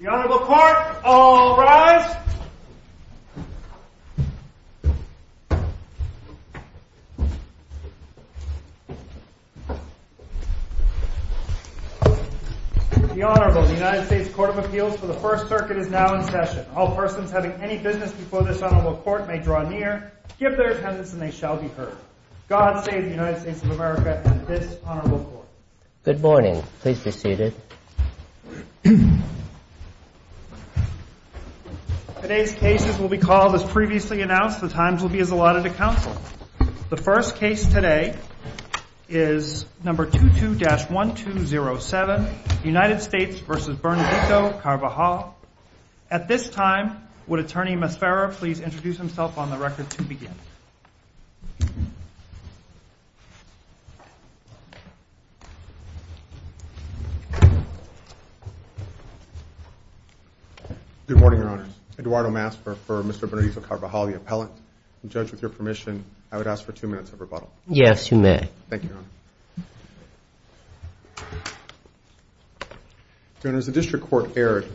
The Honorable Court, all rise. The Honorable United States Court of Appeals for the First Circuit is now in session. All persons having any business before this Honorable Court may draw near, give their attendance, and they shall be heard. God save the United States of America and this Honorable Court. Good morning. Please be seated. Today's cases will be called, as previously announced, the times will be as allotted to counsel. The first case today is number 22-1207, United States v. Bernadetto Carvajal. At this time, would Attorney Mesfera please introduce himself on the record to begin. Good morning, Your Honors. Eduardo Mesfera for Mr. Bernadetto Carvajal, the appellant. Judge, with your permission, I would ask for two minutes of rebuttal. Yes, you may. Thank you, Your Honor. Your Honors, the district court erred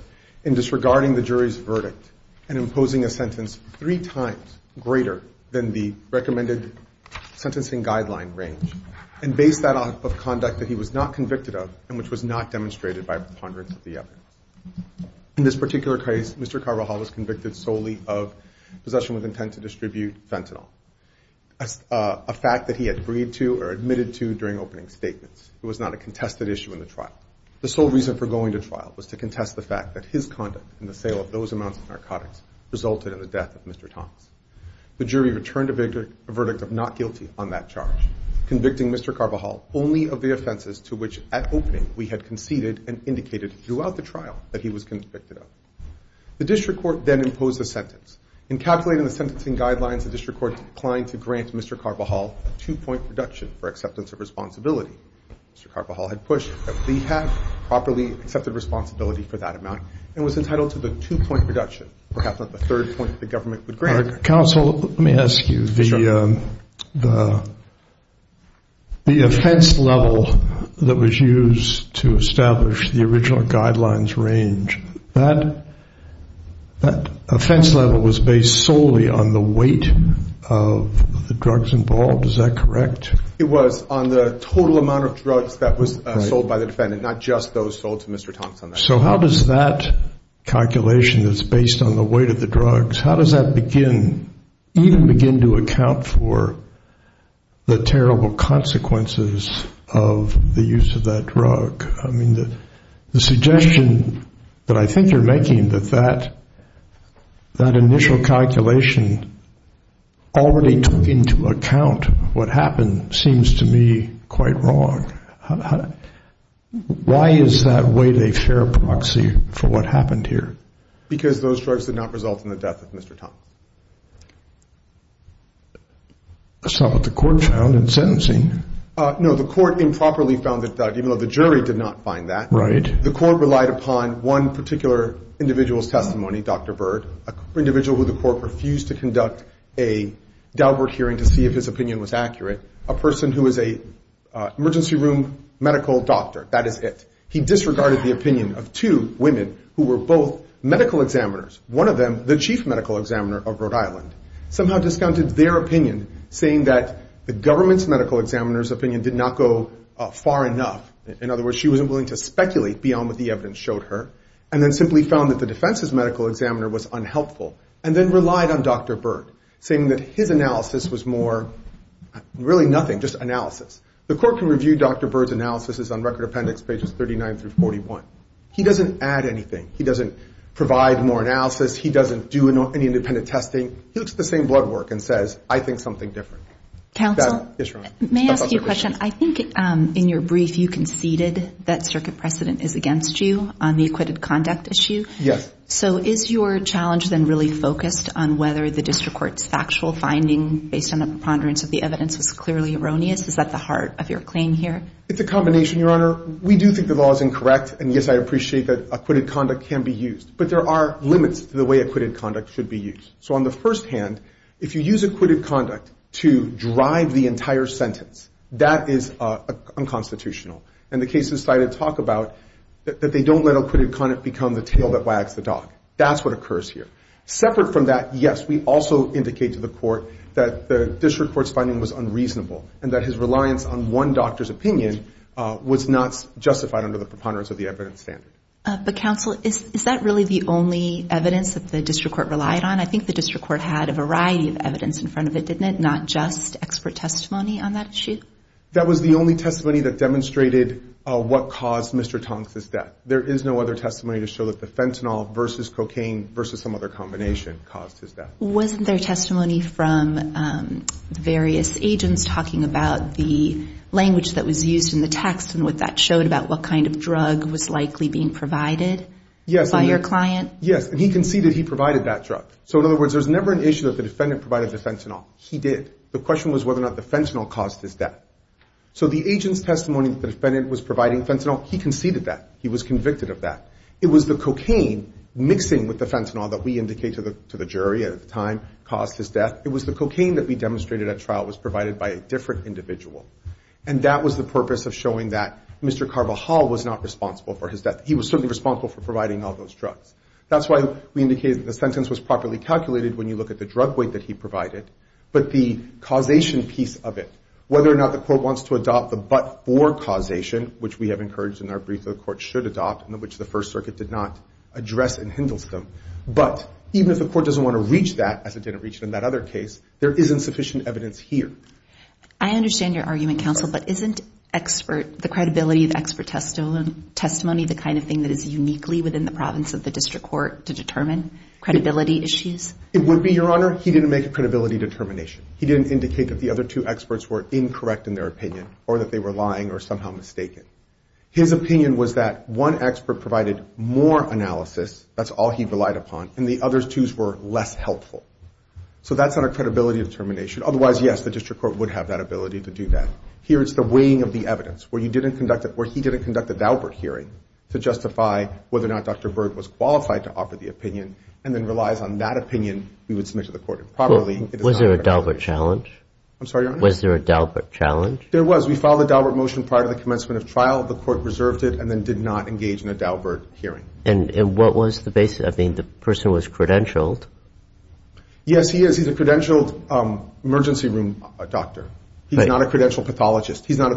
in disregarding the jury's verdict and imposing a sentence three times greater than the recommended sentencing guideline range and based that on conduct that he was not convicted of and which was not demonstrated by preponderance of the evidence. In this particular case, Mr. Carvajal was convicted solely of possession with intent to distribute fentanyl, a fact that he had agreed to or admitted to during opening statements. It was not a contested issue in the trial. The sole reason for going to trial was to contest the fact that his conduct in the sale of those amounts of narcotics resulted in the death of Mr. Thomas. The jury returned a verdict of not guilty on that charge, convicting Mr. Carvajal only of the offenses to which at opening we had conceded and indicated throughout the trial that he was convicted of. The district court then imposed a sentence. In calculating the sentencing guidelines, the district court declined to grant Mr. Carvajal a two-point reduction for acceptance of responsibility. Mr. Carvajal had pushed that we have properly accepted responsibility for that amount and was entitled to the two-point reduction, perhaps not the third point that the government would grant. Counsel, let me ask you, the offense level that was used to establish the original guidelines range, that offense level was based solely on the weight of the drugs involved, is that correct? It was on the total amount of drugs that was sold by the defendant, not just those sold to Mr. Thomas. So how does that calculation that's based on the weight of the drugs, how does that begin, even begin to account for the terrible consequences of the use of that drug? I mean, the suggestion that I think you're making that that initial calculation already took into account what happened seems to me quite wrong. Why is that weight a fair proxy for what happened here? Because those drugs did not result in the death of Mr. Thomas. That's not what the court found in sentencing. No, the court improperly found that, even though the jury did not find that. Right. The court relied upon one particular individual's testimony, Dr. Bird, an individual who the court refused to conduct a Daubert hearing to see if his opinion was accurate, a person who is an emergency room medical doctor, that is it. He disregarded the opinion of two women who were both medical examiners, one of them the chief medical examiner of Rhode Island, somehow discounted their opinion, saying that the government's medical examiner's opinion did not go far enough. In other words, she wasn't willing to speculate beyond what the evidence showed her, and then simply found that the defense's medical examiner was unhelpful, and then relied on Dr. Bird, saying that his analysis was more really nothing, just analysis. The court can review Dr. Bird's analysis on Record Appendix pages 39 through 41. He doesn't add anything. He doesn't provide more analysis. He doesn't do any independent testing. He looks at the same blood work and says, I think something different. Counsel, may I ask you a question? I think in your brief you conceded that circuit precedent is against you on the acquitted conduct issue. Yes. So is your challenge then really focused on whether the district court's factual finding based on a preponderance of the evidence was clearly erroneous? Is that the heart of your claim here? It's a combination, Your Honor. We do think the law is incorrect, and, yes, I appreciate that acquitted conduct can be used. But there are limits to the way acquitted conduct should be used. So on the first hand, if you use acquitted conduct to drive the entire sentence, that is unconstitutional. And the cases cited talk about that they don't let acquitted conduct become the tail that wags the dog. That's what occurs here. Separate from that, yes, we also indicate to the court that the district court's finding was unreasonable and that his reliance on one doctor's opinion was not justified under the preponderance of the evidence standard. But, counsel, is that really the only evidence that the district court relied on? I think the district court had a variety of evidence in front of it, didn't it, not just expert testimony on that issue? That was the only testimony that demonstrated what caused Mr. Tonks' death. There is no other testimony to show that the fentanyl versus cocaine versus some other combination caused his death. Wasn't there testimony from various agents talking about the language that was used in the text and what that showed about what kind of drug was likely being provided by your client? Yes, and he conceded he provided that drug. So, in other words, there's never an issue that the defendant provided the fentanyl. He did. The question was whether or not the fentanyl caused his death. So the agent's testimony that the defendant was providing fentanyl, he conceded that. He was convicted of that. It was the cocaine mixing with the fentanyl that we indicated to the jury at the time caused his death. It was the cocaine that we demonstrated at trial was provided by a different individual. And that was the purpose of showing that Mr. Carvajal was not responsible for his death. He was certainly responsible for providing all those drugs. That's why we indicated that the sentence was properly calculated when you look at the drug weight that he provided, but the causation piece of it, whether or not the court wants to adopt the but-for causation, which we have encouraged in our brief that the court should adopt and which the First Circuit did not address and hinders them, but even if the court doesn't want to reach that, as it didn't reach it in that other case, there isn't sufficient evidence here. I understand your argument, counsel, but isn't expert, the credibility of expert testimony the kind of thing that is uniquely within the province of the district court to determine credibility issues? It would be, Your Honor. He didn't make a credibility determination. He didn't indicate that the other two experts were incorrect in their opinion or that they were lying or somehow mistaken. His opinion was that one expert provided more analysis, that's all he relied upon, and the other two were less helpful. So that's not a credibility determination. Otherwise, yes, the district court would have that ability to do that. Here it's the weighing of the evidence, where he didn't conduct a Daubert hearing to justify whether or not Dr. Berg was qualified to offer the opinion and then relies on that opinion we would submit to the court improperly. Was there a Daubert challenge? I'm sorry, Your Honor? Was there a Daubert challenge? There was. We filed a Daubert motion prior to the commencement of trial. The court reserved it and then did not engage in a Daubert hearing. And what was the basis? I mean, the person was credentialed. Yes, he is. He's a credentialed emergency room doctor. He's not a credentialed pathologist. He's not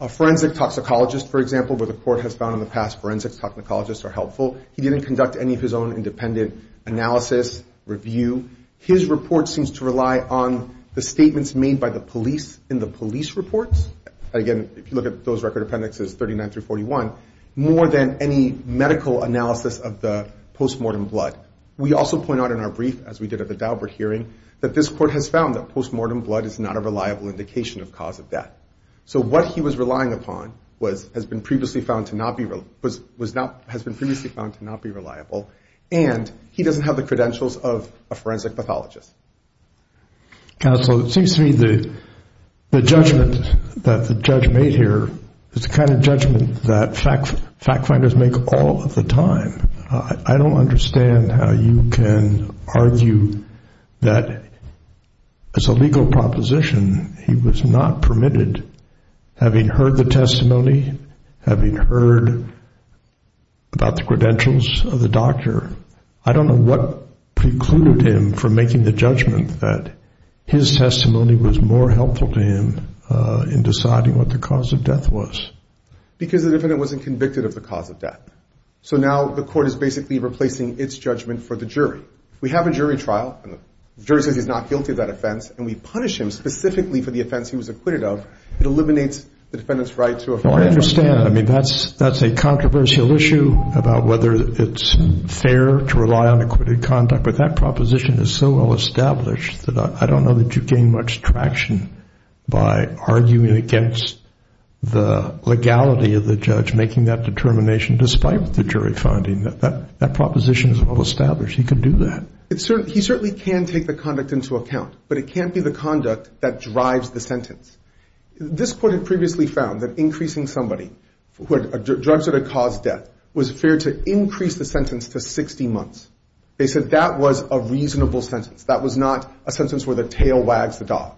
a forensic toxicologist, for example, where the court has found in the past forensics toxicologists are helpful. He didn't conduct any of his own independent analysis, review. His report seems to rely on the statements made by the police in the police reports. Again, if you look at those record appendixes 39 through 41, more than any medical analysis of the postmortem blood. We also point out in our brief, as we did at the Daubert hearing, that this court has found that postmortem blood is not a reliable indication of cause of death. So what he was relying upon has been previously found to not be reliable, and he doesn't have the credentials of a forensic pathologist. Counsel, it seems to me the judgment that the judge made here is the kind of judgment that fact finders make all of the time. I don't understand how you can argue that as a legal proposition he was not permitted, having heard the testimony, having heard about the credentials of the doctor. I don't know what precluded him from making the judgment that his testimony was more helpful to him in deciding what the cause of death was. Because the defendant wasn't convicted of the cause of death. So now the court is basically replacing its judgment for the jury. We have a jury trial, and the jury says he's not guilty of that offense, and we punish him specifically for the offense he was acquitted of. It eliminates the defendant's right to a forensic trial. Well, I understand. I mean, that's a controversial issue about whether it's fair to rely on acquitted conduct, but that proposition is so well established that I don't know that you gain much traction by arguing against the legality of the judge making that determination despite the jury finding. That proposition is well established. He could do that. He certainly can take the conduct into account, but it can't be the conduct that drives the sentence. This court had previously found that increasing somebody who had drugs that had caused death was fair to increase the sentence to 60 months. They said that was a reasonable sentence. That was not a sentence where the tail wags the dog.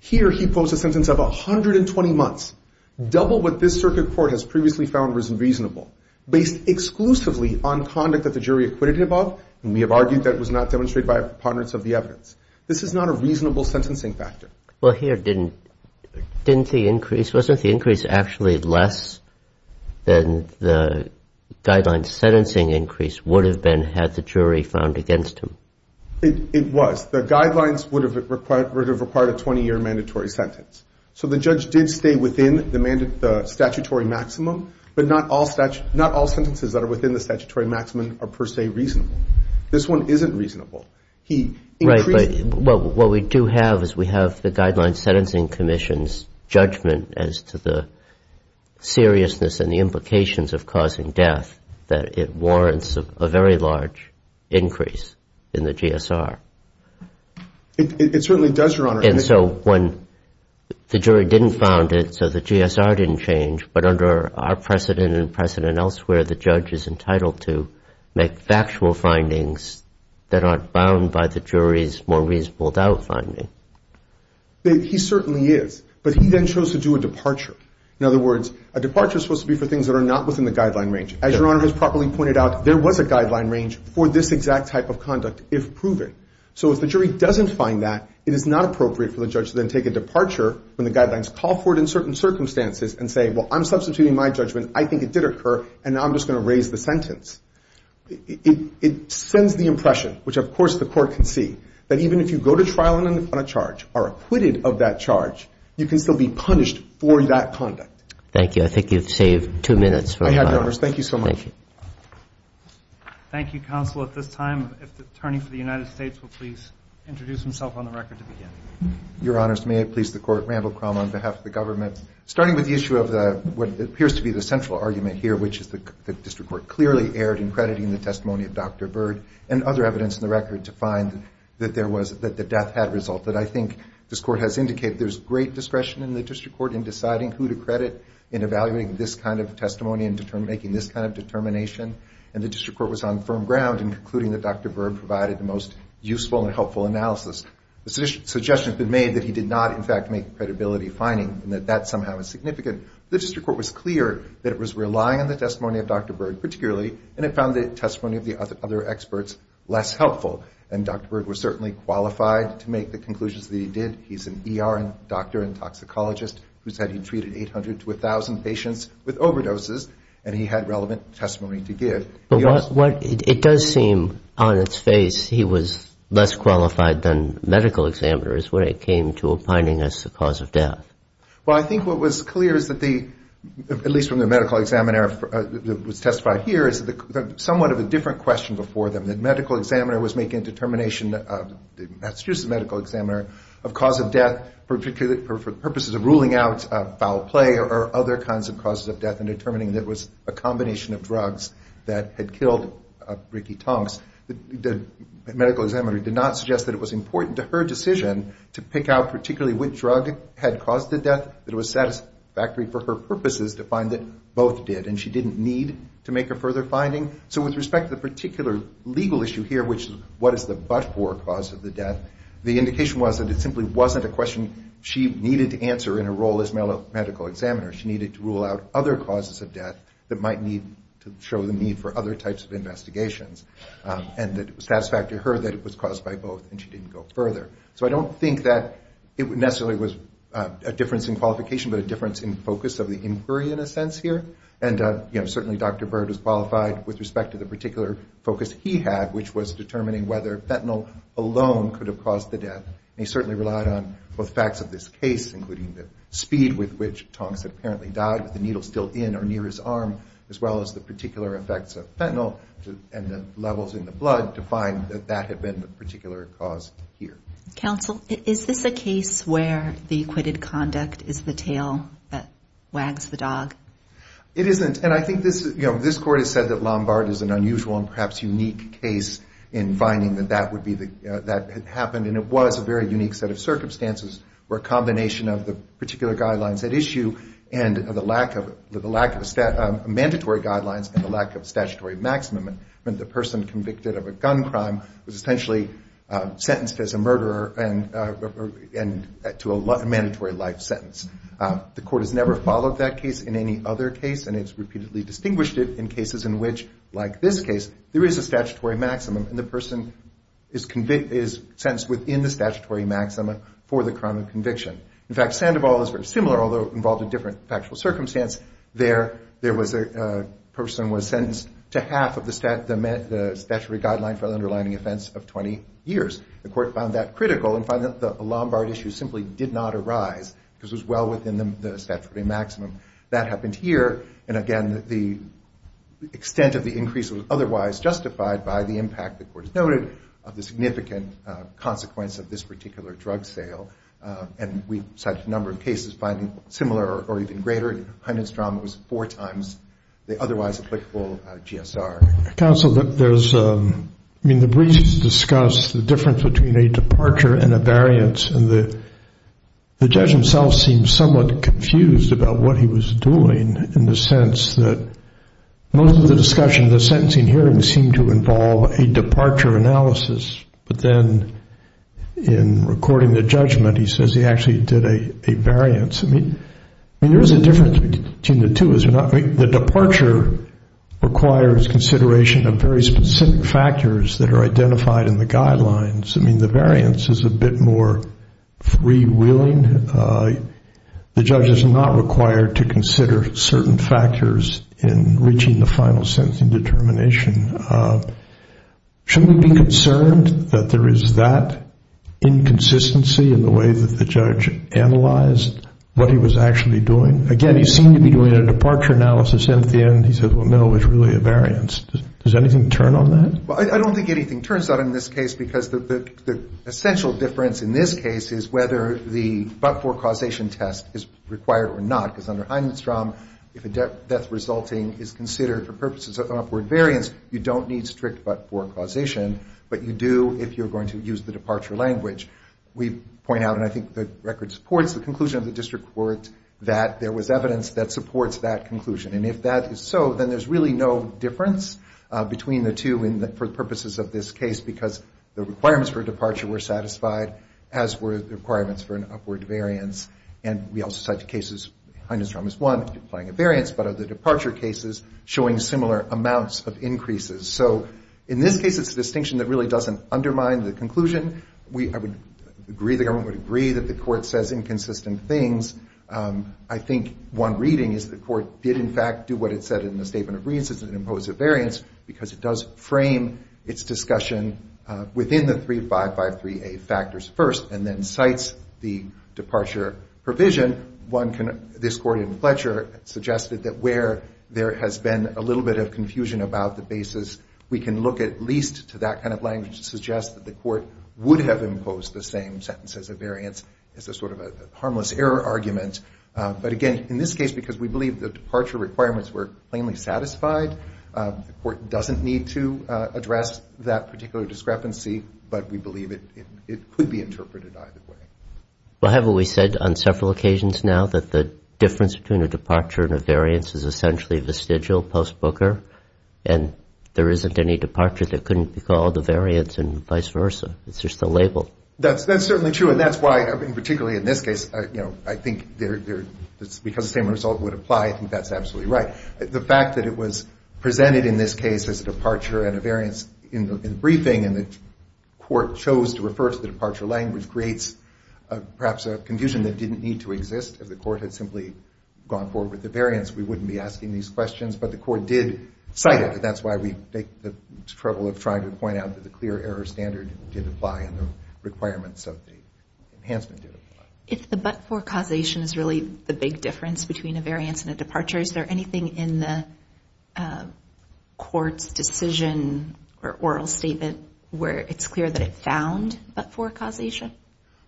Here he posed a sentence of 120 months, double what this circuit court has previously found was reasonable, based exclusively on conduct that the jury acquitted him of, and we have argued that it was not demonstrated by a preponderance of the evidence. This is not a reasonable sentencing factor. Well, here didn't the increase, wasn't the increase actually less than the guideline sentencing increase would have been had the jury found against him? It was. The guidelines would have required a 20-year mandatory sentence. So the judge did stay within the statutory maximum, but not all sentences that are within the statutory maximum are per se reasonable. This one isn't reasonable. Right, but what we do have is we have the Guidelines Sentencing Commission's judgment as to the seriousness and the implications of causing death that it warrants a very large increase in the GSR. It certainly does, Your Honor. And so when the jury didn't found it, so the GSR didn't change, but under our precedent and precedent elsewhere, the judge is entitled to make factual findings that aren't bound by the jury's more reasonable doubt finding. He certainly is, but he then chose to do a departure. In other words, a departure is supposed to be for things that are not within the guideline range. As Your Honor has properly pointed out, there was a guideline range for this exact type of conduct if proven. So if the jury doesn't find that, it is not appropriate for the judge to then take a departure when the guidelines call for it in certain circumstances and say, well, I'm substituting my judgment, I think it did occur, and now I'm just going to raise the sentence. It sends the impression, which of course the court can see, that even if you go to trial on a charge or are acquitted of that charge, you can still be punished for that conduct. Thank you. I think you've saved two minutes. I have, Your Honors. Thank you so much. Thank you. Thank you, counsel. At this time, if the attorney for the United States will please introduce himself on the record to begin. Your Honors, may I please the court, Randall Crum on behalf of the government. Starting with the issue of what appears to be the central argument here, which is the district court clearly erred in crediting the testimony of Dr. Bird and other evidence in the record to find that there was, that the death had resulted. I think this court has indicated there's great discretion in the district court in deciding who to credit in evaluating this kind of testimony and making this kind of determination, and the district court was on firm ground in concluding that Dr. Bird provided the most useful and helpful analysis. The suggestion has been made that he did not, in fact, make credibility finding and that that somehow is significant. The district court was clear that it was relying on the testimony of Dr. Bird particularly, and it found the testimony of the other experts less helpful, and Dr. Bird was certainly qualified to make the conclusions that he did. He's an ER doctor and toxicologist who said he treated 800 to 1,000 patients with overdoses, and he had relevant testimony to give. But what, it does seem on its face he was less qualified than medical examiners when it came to opining as the cause of death. Well, I think what was clear is that the, at least from the medical examiner that was testified here, is somewhat of a different question before them. The medical examiner was making a determination, Massachusetts medical examiner, of cause of death for purposes of ruling out foul play or other kinds of causes of death and determining that it was a combination of drugs that had killed Ricky Tonks. The medical examiner did not suggest that it was important to her decision to pick out particularly which drug had caused the death, that it was satisfactory for her purposes to find that both did, and she didn't need to make a further finding. So with respect to the particular legal issue here, which is what is the but-for cause of the death, the indication was that it simply wasn't a question she needed to answer in her role as medical examiner. She needed to rule out other causes of death that might show the need for other types of investigations, and that it was satisfactory to her that it was caused by both, and she didn't go further. So I don't think that it necessarily was a difference in qualification, but a difference in focus of the inquiry in a sense here, and certainly Dr. Byrd was qualified with respect to the particular focus he had, which was determining whether fentanyl alone could have caused the death. He certainly relied on both facts of this case, including the speed with which Tonks apparently died, with the needle still in or near his arm, as well as the particular effects of fentanyl and the levels in the blood to find that that had been the particular cause here. Counsel, is this a case where the acquitted conduct is the tail that wags the dog? It isn't, and I think this court has said that Lombard is an unusual and perhaps unique case in finding that that had happened, and it was a very unique set of circumstances where a combination of the particular guidelines at issue and the lack of mandatory guidelines and the lack of statutory maximum meant the person convicted of a gun crime was essentially sentenced as a murderer and to a mandatory life sentence. The court has never followed that case in any other case, and it's repeatedly distinguished it in cases in which, like this case, there is a statutory maximum and the person is sentenced within the statutory maximum for the crime of conviction. In fact, Sandoval is very similar, although involved a different factual circumstance. There was a person who was sentenced to half of the statutory guideline for the underlying offense of 20 years. The court found that critical and found that the Lombard issue simply did not arise because it was well within the statutory maximum. That happened here, and again, the extent of the increase was otherwise justified by the impact, the court has noted, of the significant consequence of this particular drug sale, and we cited a number of cases finding similar or even greater. Hindenstrom was four times the otherwise applicable GSR. Counsel, the briefs discuss the difference between a departure and a variance, and the judge himself seems somewhat confused about what he was doing in the sense that most of the discussion in the sentencing hearing seemed to involve a departure analysis, but then in recording the judgment, he says he actually did a variance. I mean, there is a difference between the two. The departure requires consideration of very specific factors that are identified in the guidelines. I mean, the variance is a bit more freewheeling. The judge is not required to consider certain factors in reaching the final sentencing determination. Shouldn't we be concerned that there is that inconsistency in the way that the judge analyzed what he was actually doing? Again, he seemed to be doing a departure analysis, and at the end he said, well, no, it's really a variance. Does anything turn on that? Well, I don't think anything turns on in this case because the essential difference in this case is whether the but-for causation test is required or not, because under Hindenstrom, if a death resulting is considered for purposes of upward variance, you don't need strict but-for causation, but you do if you're going to use the departure language. We point out, and I think the record supports the conclusion of the district court, that there was evidence that supports that conclusion. And if that is so, then there's really no difference between the two for the purposes of this case because the requirements for departure were satisfied, as were the requirements for an upward variance. And we also cite the cases, Hindenstrom is one, applying a variance, but are the departure cases showing similar amounts of increases? So in this case, it's a distinction that really doesn't undermine the conclusion. I would agree, the government would agree, that the court says inconsistent things. I think one reading is the court did, in fact, do what it said in the statement of reasons and imposed a variance because it does frame its discussion within the 3553A factors first and then cites the departure provision. This court in Fletcher suggested that where there has been a little bit of confusion about the basis, we can look at least to that kind of language to suggest that the court would have imposed the same sentence as a variance as a sort of a harmless error argument. But again, in this case, because we believe the departure requirements were plainly satisfied, the court doesn't need to address that particular discrepancy, but we believe it could be interpreted either way. Well, haven't we said on several occasions now that the difference between a departure and a variance is essentially vestigial, post-Booker, and there isn't any departure that couldn't be called a variance and vice versa? It's just a label. That's certainly true, and that's why, particularly in this case, I think because the same result would apply, I think that's absolutely right. The fact that it was presented in this case as a departure and a variance in the briefing and the court chose to refer to the departure language creates perhaps a confusion that didn't need to exist. If the court had simply gone forward with the variance, we wouldn't be asking these questions, but the court did cite it, and that's why we take the trouble of trying to point out that the clear error standard did apply and the requirements of the enhancement did apply. If the but-for causation is really the big difference between a variance and a departure, is there anything in the court's decision or oral statement where it's clear that it found but-for causation?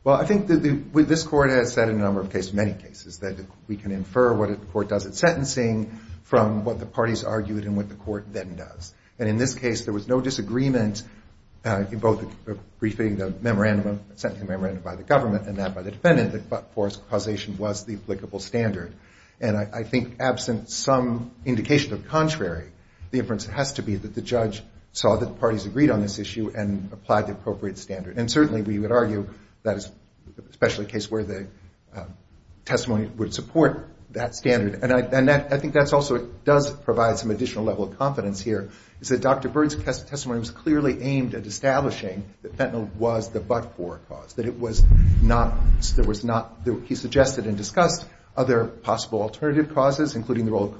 Well, I think this court has said in a number of cases, many cases, that we can infer what the court does at sentencing from what the parties argued and what the court then does. And in this case, there was no disagreement in both the briefing, the memorandum sent to the memorandum by the government and that by the defendant that but-for causation was the applicable standard. And I think absent some indication of contrary, the inference has to be that the judge saw that the parties agreed on this issue and applied the appropriate standard. And certainly we would argue that is especially the case where the testimony would support that standard. And I think that also does provide some additional level of confidence here, is that Dr. Byrd's testimony was clearly aimed at establishing that fentanyl was the but-for cause, that he suggested and discussed other possible alternative causes, including the role of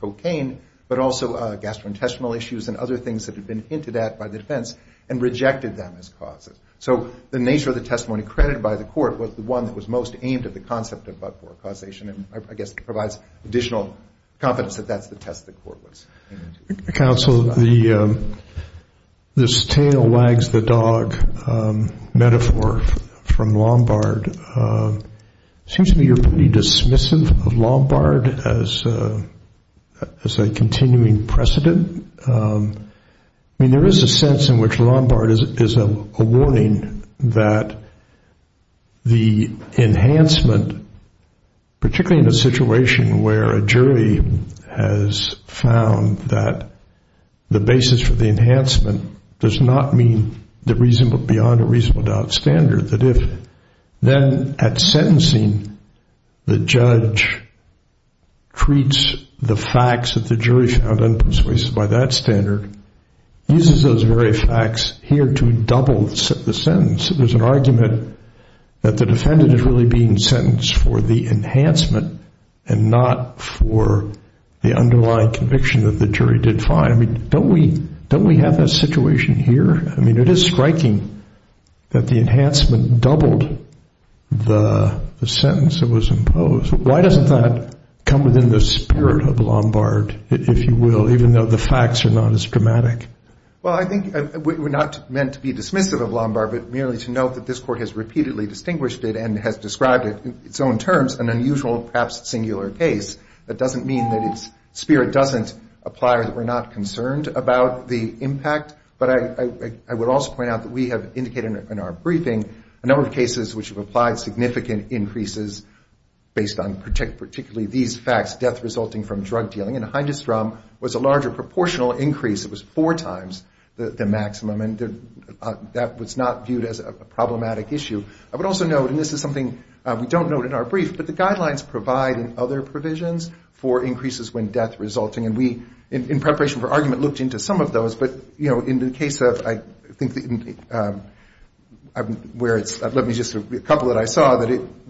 cocaine, but also gastrointestinal issues and other things that had been hinted at by the defense and rejected them as causes. So the nature of the testimony credited by the court was the one that was most aimed at the concept of but-for causation and I guess provides additional confidence that that's the test the court was aiming to. Counsel, this tail-wags-the-dog metaphor from Lombard, it seems to me you're pretty dismissive of Lombard as a continuing precedent. I mean there is a sense in which Lombard is a warning that the enhancement, particularly in a situation where a jury has found that the basis for the enhancement does not mean beyond a reasonable doubt standard, that if then at sentencing the judge treats the facts that the jury found unpersuasive by that standard, uses those very facts here to double the sentence. There's an argument that the defendant is really being sentenced for the enhancement and not for the underlying conviction that the jury did find. Don't we have that situation here? I mean it is striking that the enhancement doubled the sentence that was imposed. Why doesn't that come within the spirit of Lombard, if you will, even though the facts are not as dramatic? Well, I think we're not meant to be dismissive of Lombard, but merely to note that this court has repeatedly distinguished it and has described it in its own terms an unusual, perhaps singular case. That doesn't mean that its spirit doesn't apply or that we're not concerned about the impact, but I would also point out that we have indicated in our briefing a number of cases which have applied significant increases based on particularly these facts, death resulting from drug dealing. Hindstrom was a larger proportional increase. It was four times the maximum, and that was not viewed as a problematic issue. I would also note, and this is something we don't note in our brief, but the guidelines provide in other provisions for increases when death resulting, and we, in preparation for argument, looked into some of those, but in the case of, I think, where it's, let me just, a couple that I saw,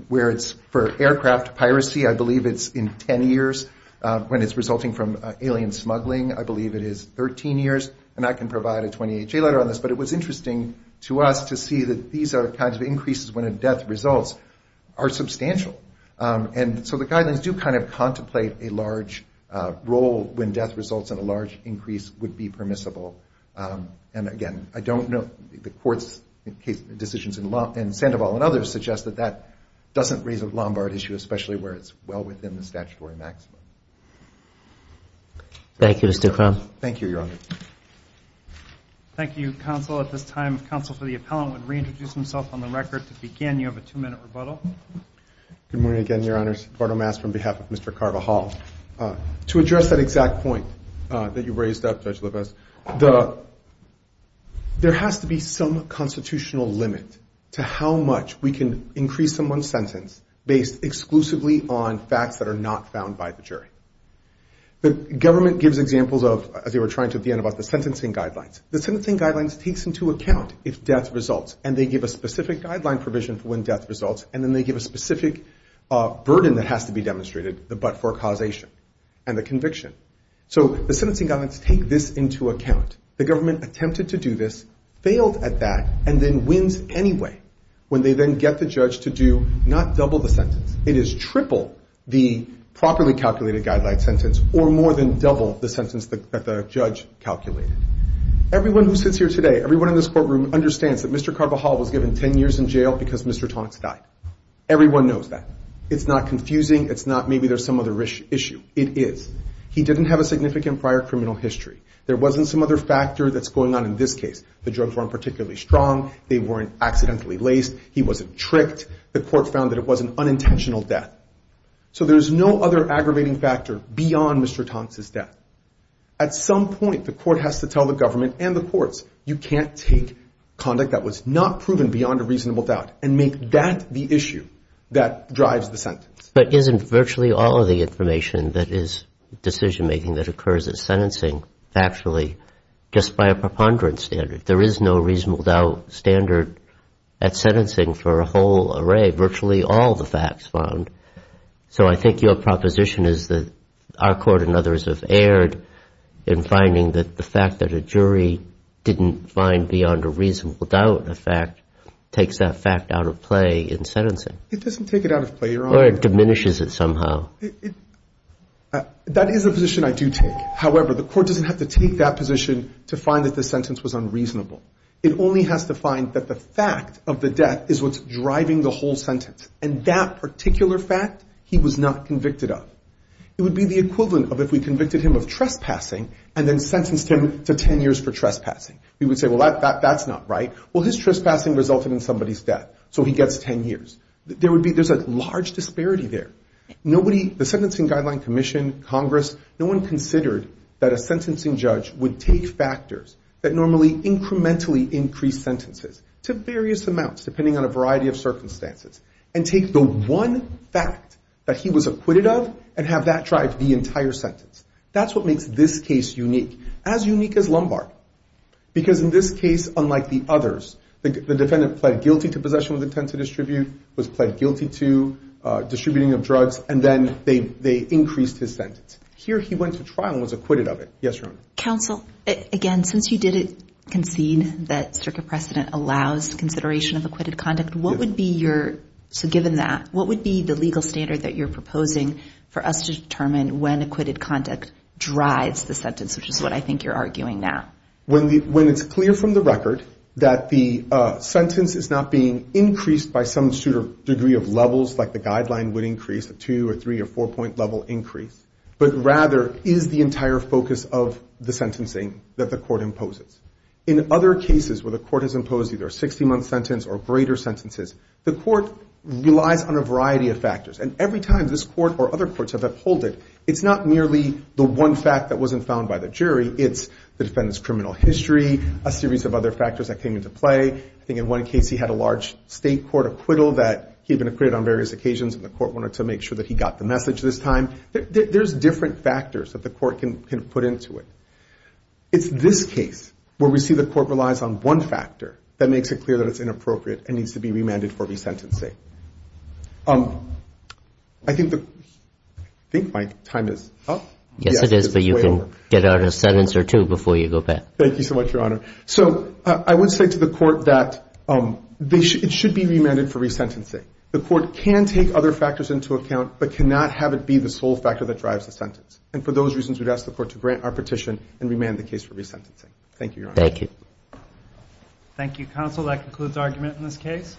where it's for aircraft piracy, I believe it's in 10 years, when it's resulting from alien smuggling, I believe it is 13 years, and I can provide a 28-J letter on this, but it was interesting to us to see that these are the kinds of increases when a death results are substantial, and so the guidelines do kind of contemplate a large role when death results in a large increase would be permissible, and again, I don't know, the court's decisions in Sandoval and others suggest that that doesn't raise a Lombard issue, especially where it's well within the statutory maximum. Thank you, Mr. Cronin. Thank you, Your Honor. Thank you, counsel. At this time, if counsel for the appellant would reintroduce himself on the record to begin, you have a two-minute rebuttal. Good morning again, Your Honors. Bardo Mast from behalf of Mr. Carvajal. To address that exact point that you raised up, Judge Lopez, there has to be some constitutional limit to how much we can increase someone's sentence based exclusively on facts that are not found by the jury. The government gives examples of, as you were trying to at the end, about the sentencing guidelines. The sentencing guidelines takes into account if death results, and they give a specific guideline provision for when death results, and then they give a specific burden that has to be demonstrated, the but-for causation and the conviction. So the sentencing guidelines take this into account. The government attempted to do this, failed at that, and then wins anyway when they then get the judge to do not double the sentence. It is triple the properly calculated guideline sentence or more than double the sentence that the judge calculated. Everyone who sits here today, everyone in this courtroom, understands that Mr. Carvajal was given 10 years in jail because Mr. Tonics died. Everyone knows that. It's not confusing. It's not maybe there's some other issue. It is. He didn't have a significant prior criminal history. There wasn't some other factor that's going on in this case. The drugs weren't particularly strong. They weren't accidentally laced. He wasn't tricked. The court found that it was an unintentional death. So there's no other aggravating factor beyond Mr. Tonics' death. At some point, the court has to tell the government and the courts, you can't take conduct that was not proven beyond a reasonable doubt and make that the issue that drives the sentence. But isn't virtually all of the information that is decision-making that occurs in sentencing actually just by a preponderance standard? There is no reasonable doubt standard at sentencing for a whole array, virtually all the facts found. So I think your proposition is that our court and others have erred in finding that the fact that a jury didn't find beyond a reasonable doubt a fact takes that fact out of play in sentencing. It doesn't take it out of play. Or it diminishes it somehow. That is a position I do take. However, the court doesn't have to take that position to find that the sentence was unreasonable. It only has to find that the fact of the death is what's driving the whole sentence, and that particular fact he was not convicted of. It would be the equivalent of if we convicted him of trespassing and then sentenced him to 10 years for trespassing. We would say, well, that's not right. Well, his trespassing resulted in somebody's death, so he gets 10 years. There's a large disparity there. The Sentencing Guideline Commission, Congress, no one considered that a sentencing judge would take factors that normally incrementally increase sentences to various amounts, depending on a variety of circumstances, and take the one fact that he was acquitted of and have that drive the entire sentence. That's what makes this case unique, as unique as Lombard, because in this case, unlike the others, the defendant pled guilty to possession with intent to distribute, was pled guilty to distributing of drugs, and then they increased his sentence. Here he went to trial and was acquitted of it. Yes, Your Honor. Counsel, again, since you did concede that circuit precedent allows consideration of acquitted conduct, what would be your, so given that, what would be the legal standard that you're proposing for us to determine when acquitted conduct drives the sentence, which is what I think you're arguing now? When it's clear from the record that the sentence is not being increased by some degree of levels, like the guideline would increase, a two- or three- or four-point-level increase, but rather is the entire focus of the sentencing that the court imposes. In other cases where the court has imposed either a 60-month sentence or greater sentences, the court relies on a variety of factors, and every time this court or other courts have upheld it, it's not merely the one fact that wasn't found by the jury, it's the defendant's criminal history, a series of other factors that came into play. I think in one case he had a large state court acquittal that he had been acquitted on various occasions, and the court wanted to make sure that he got the message this time. There's different factors that the court can put into it. It's this case where we see the court relies on one factor that makes it clear that it's inappropriate and needs to be remanded for resentencing. I think my time is up. Yes, it is, but you can get out a sentence or two before you go back. Thank you so much, Your Honor. So I would say to the court that it should be remanded for resentencing. The court can take other factors into account, but cannot have it be the sole factor that drives the sentence, and for those reasons we'd ask the court to grant our petition and remand the case for resentencing. Thank you, Your Honor. Thank you. Thank you, counsel. That concludes argument in this case.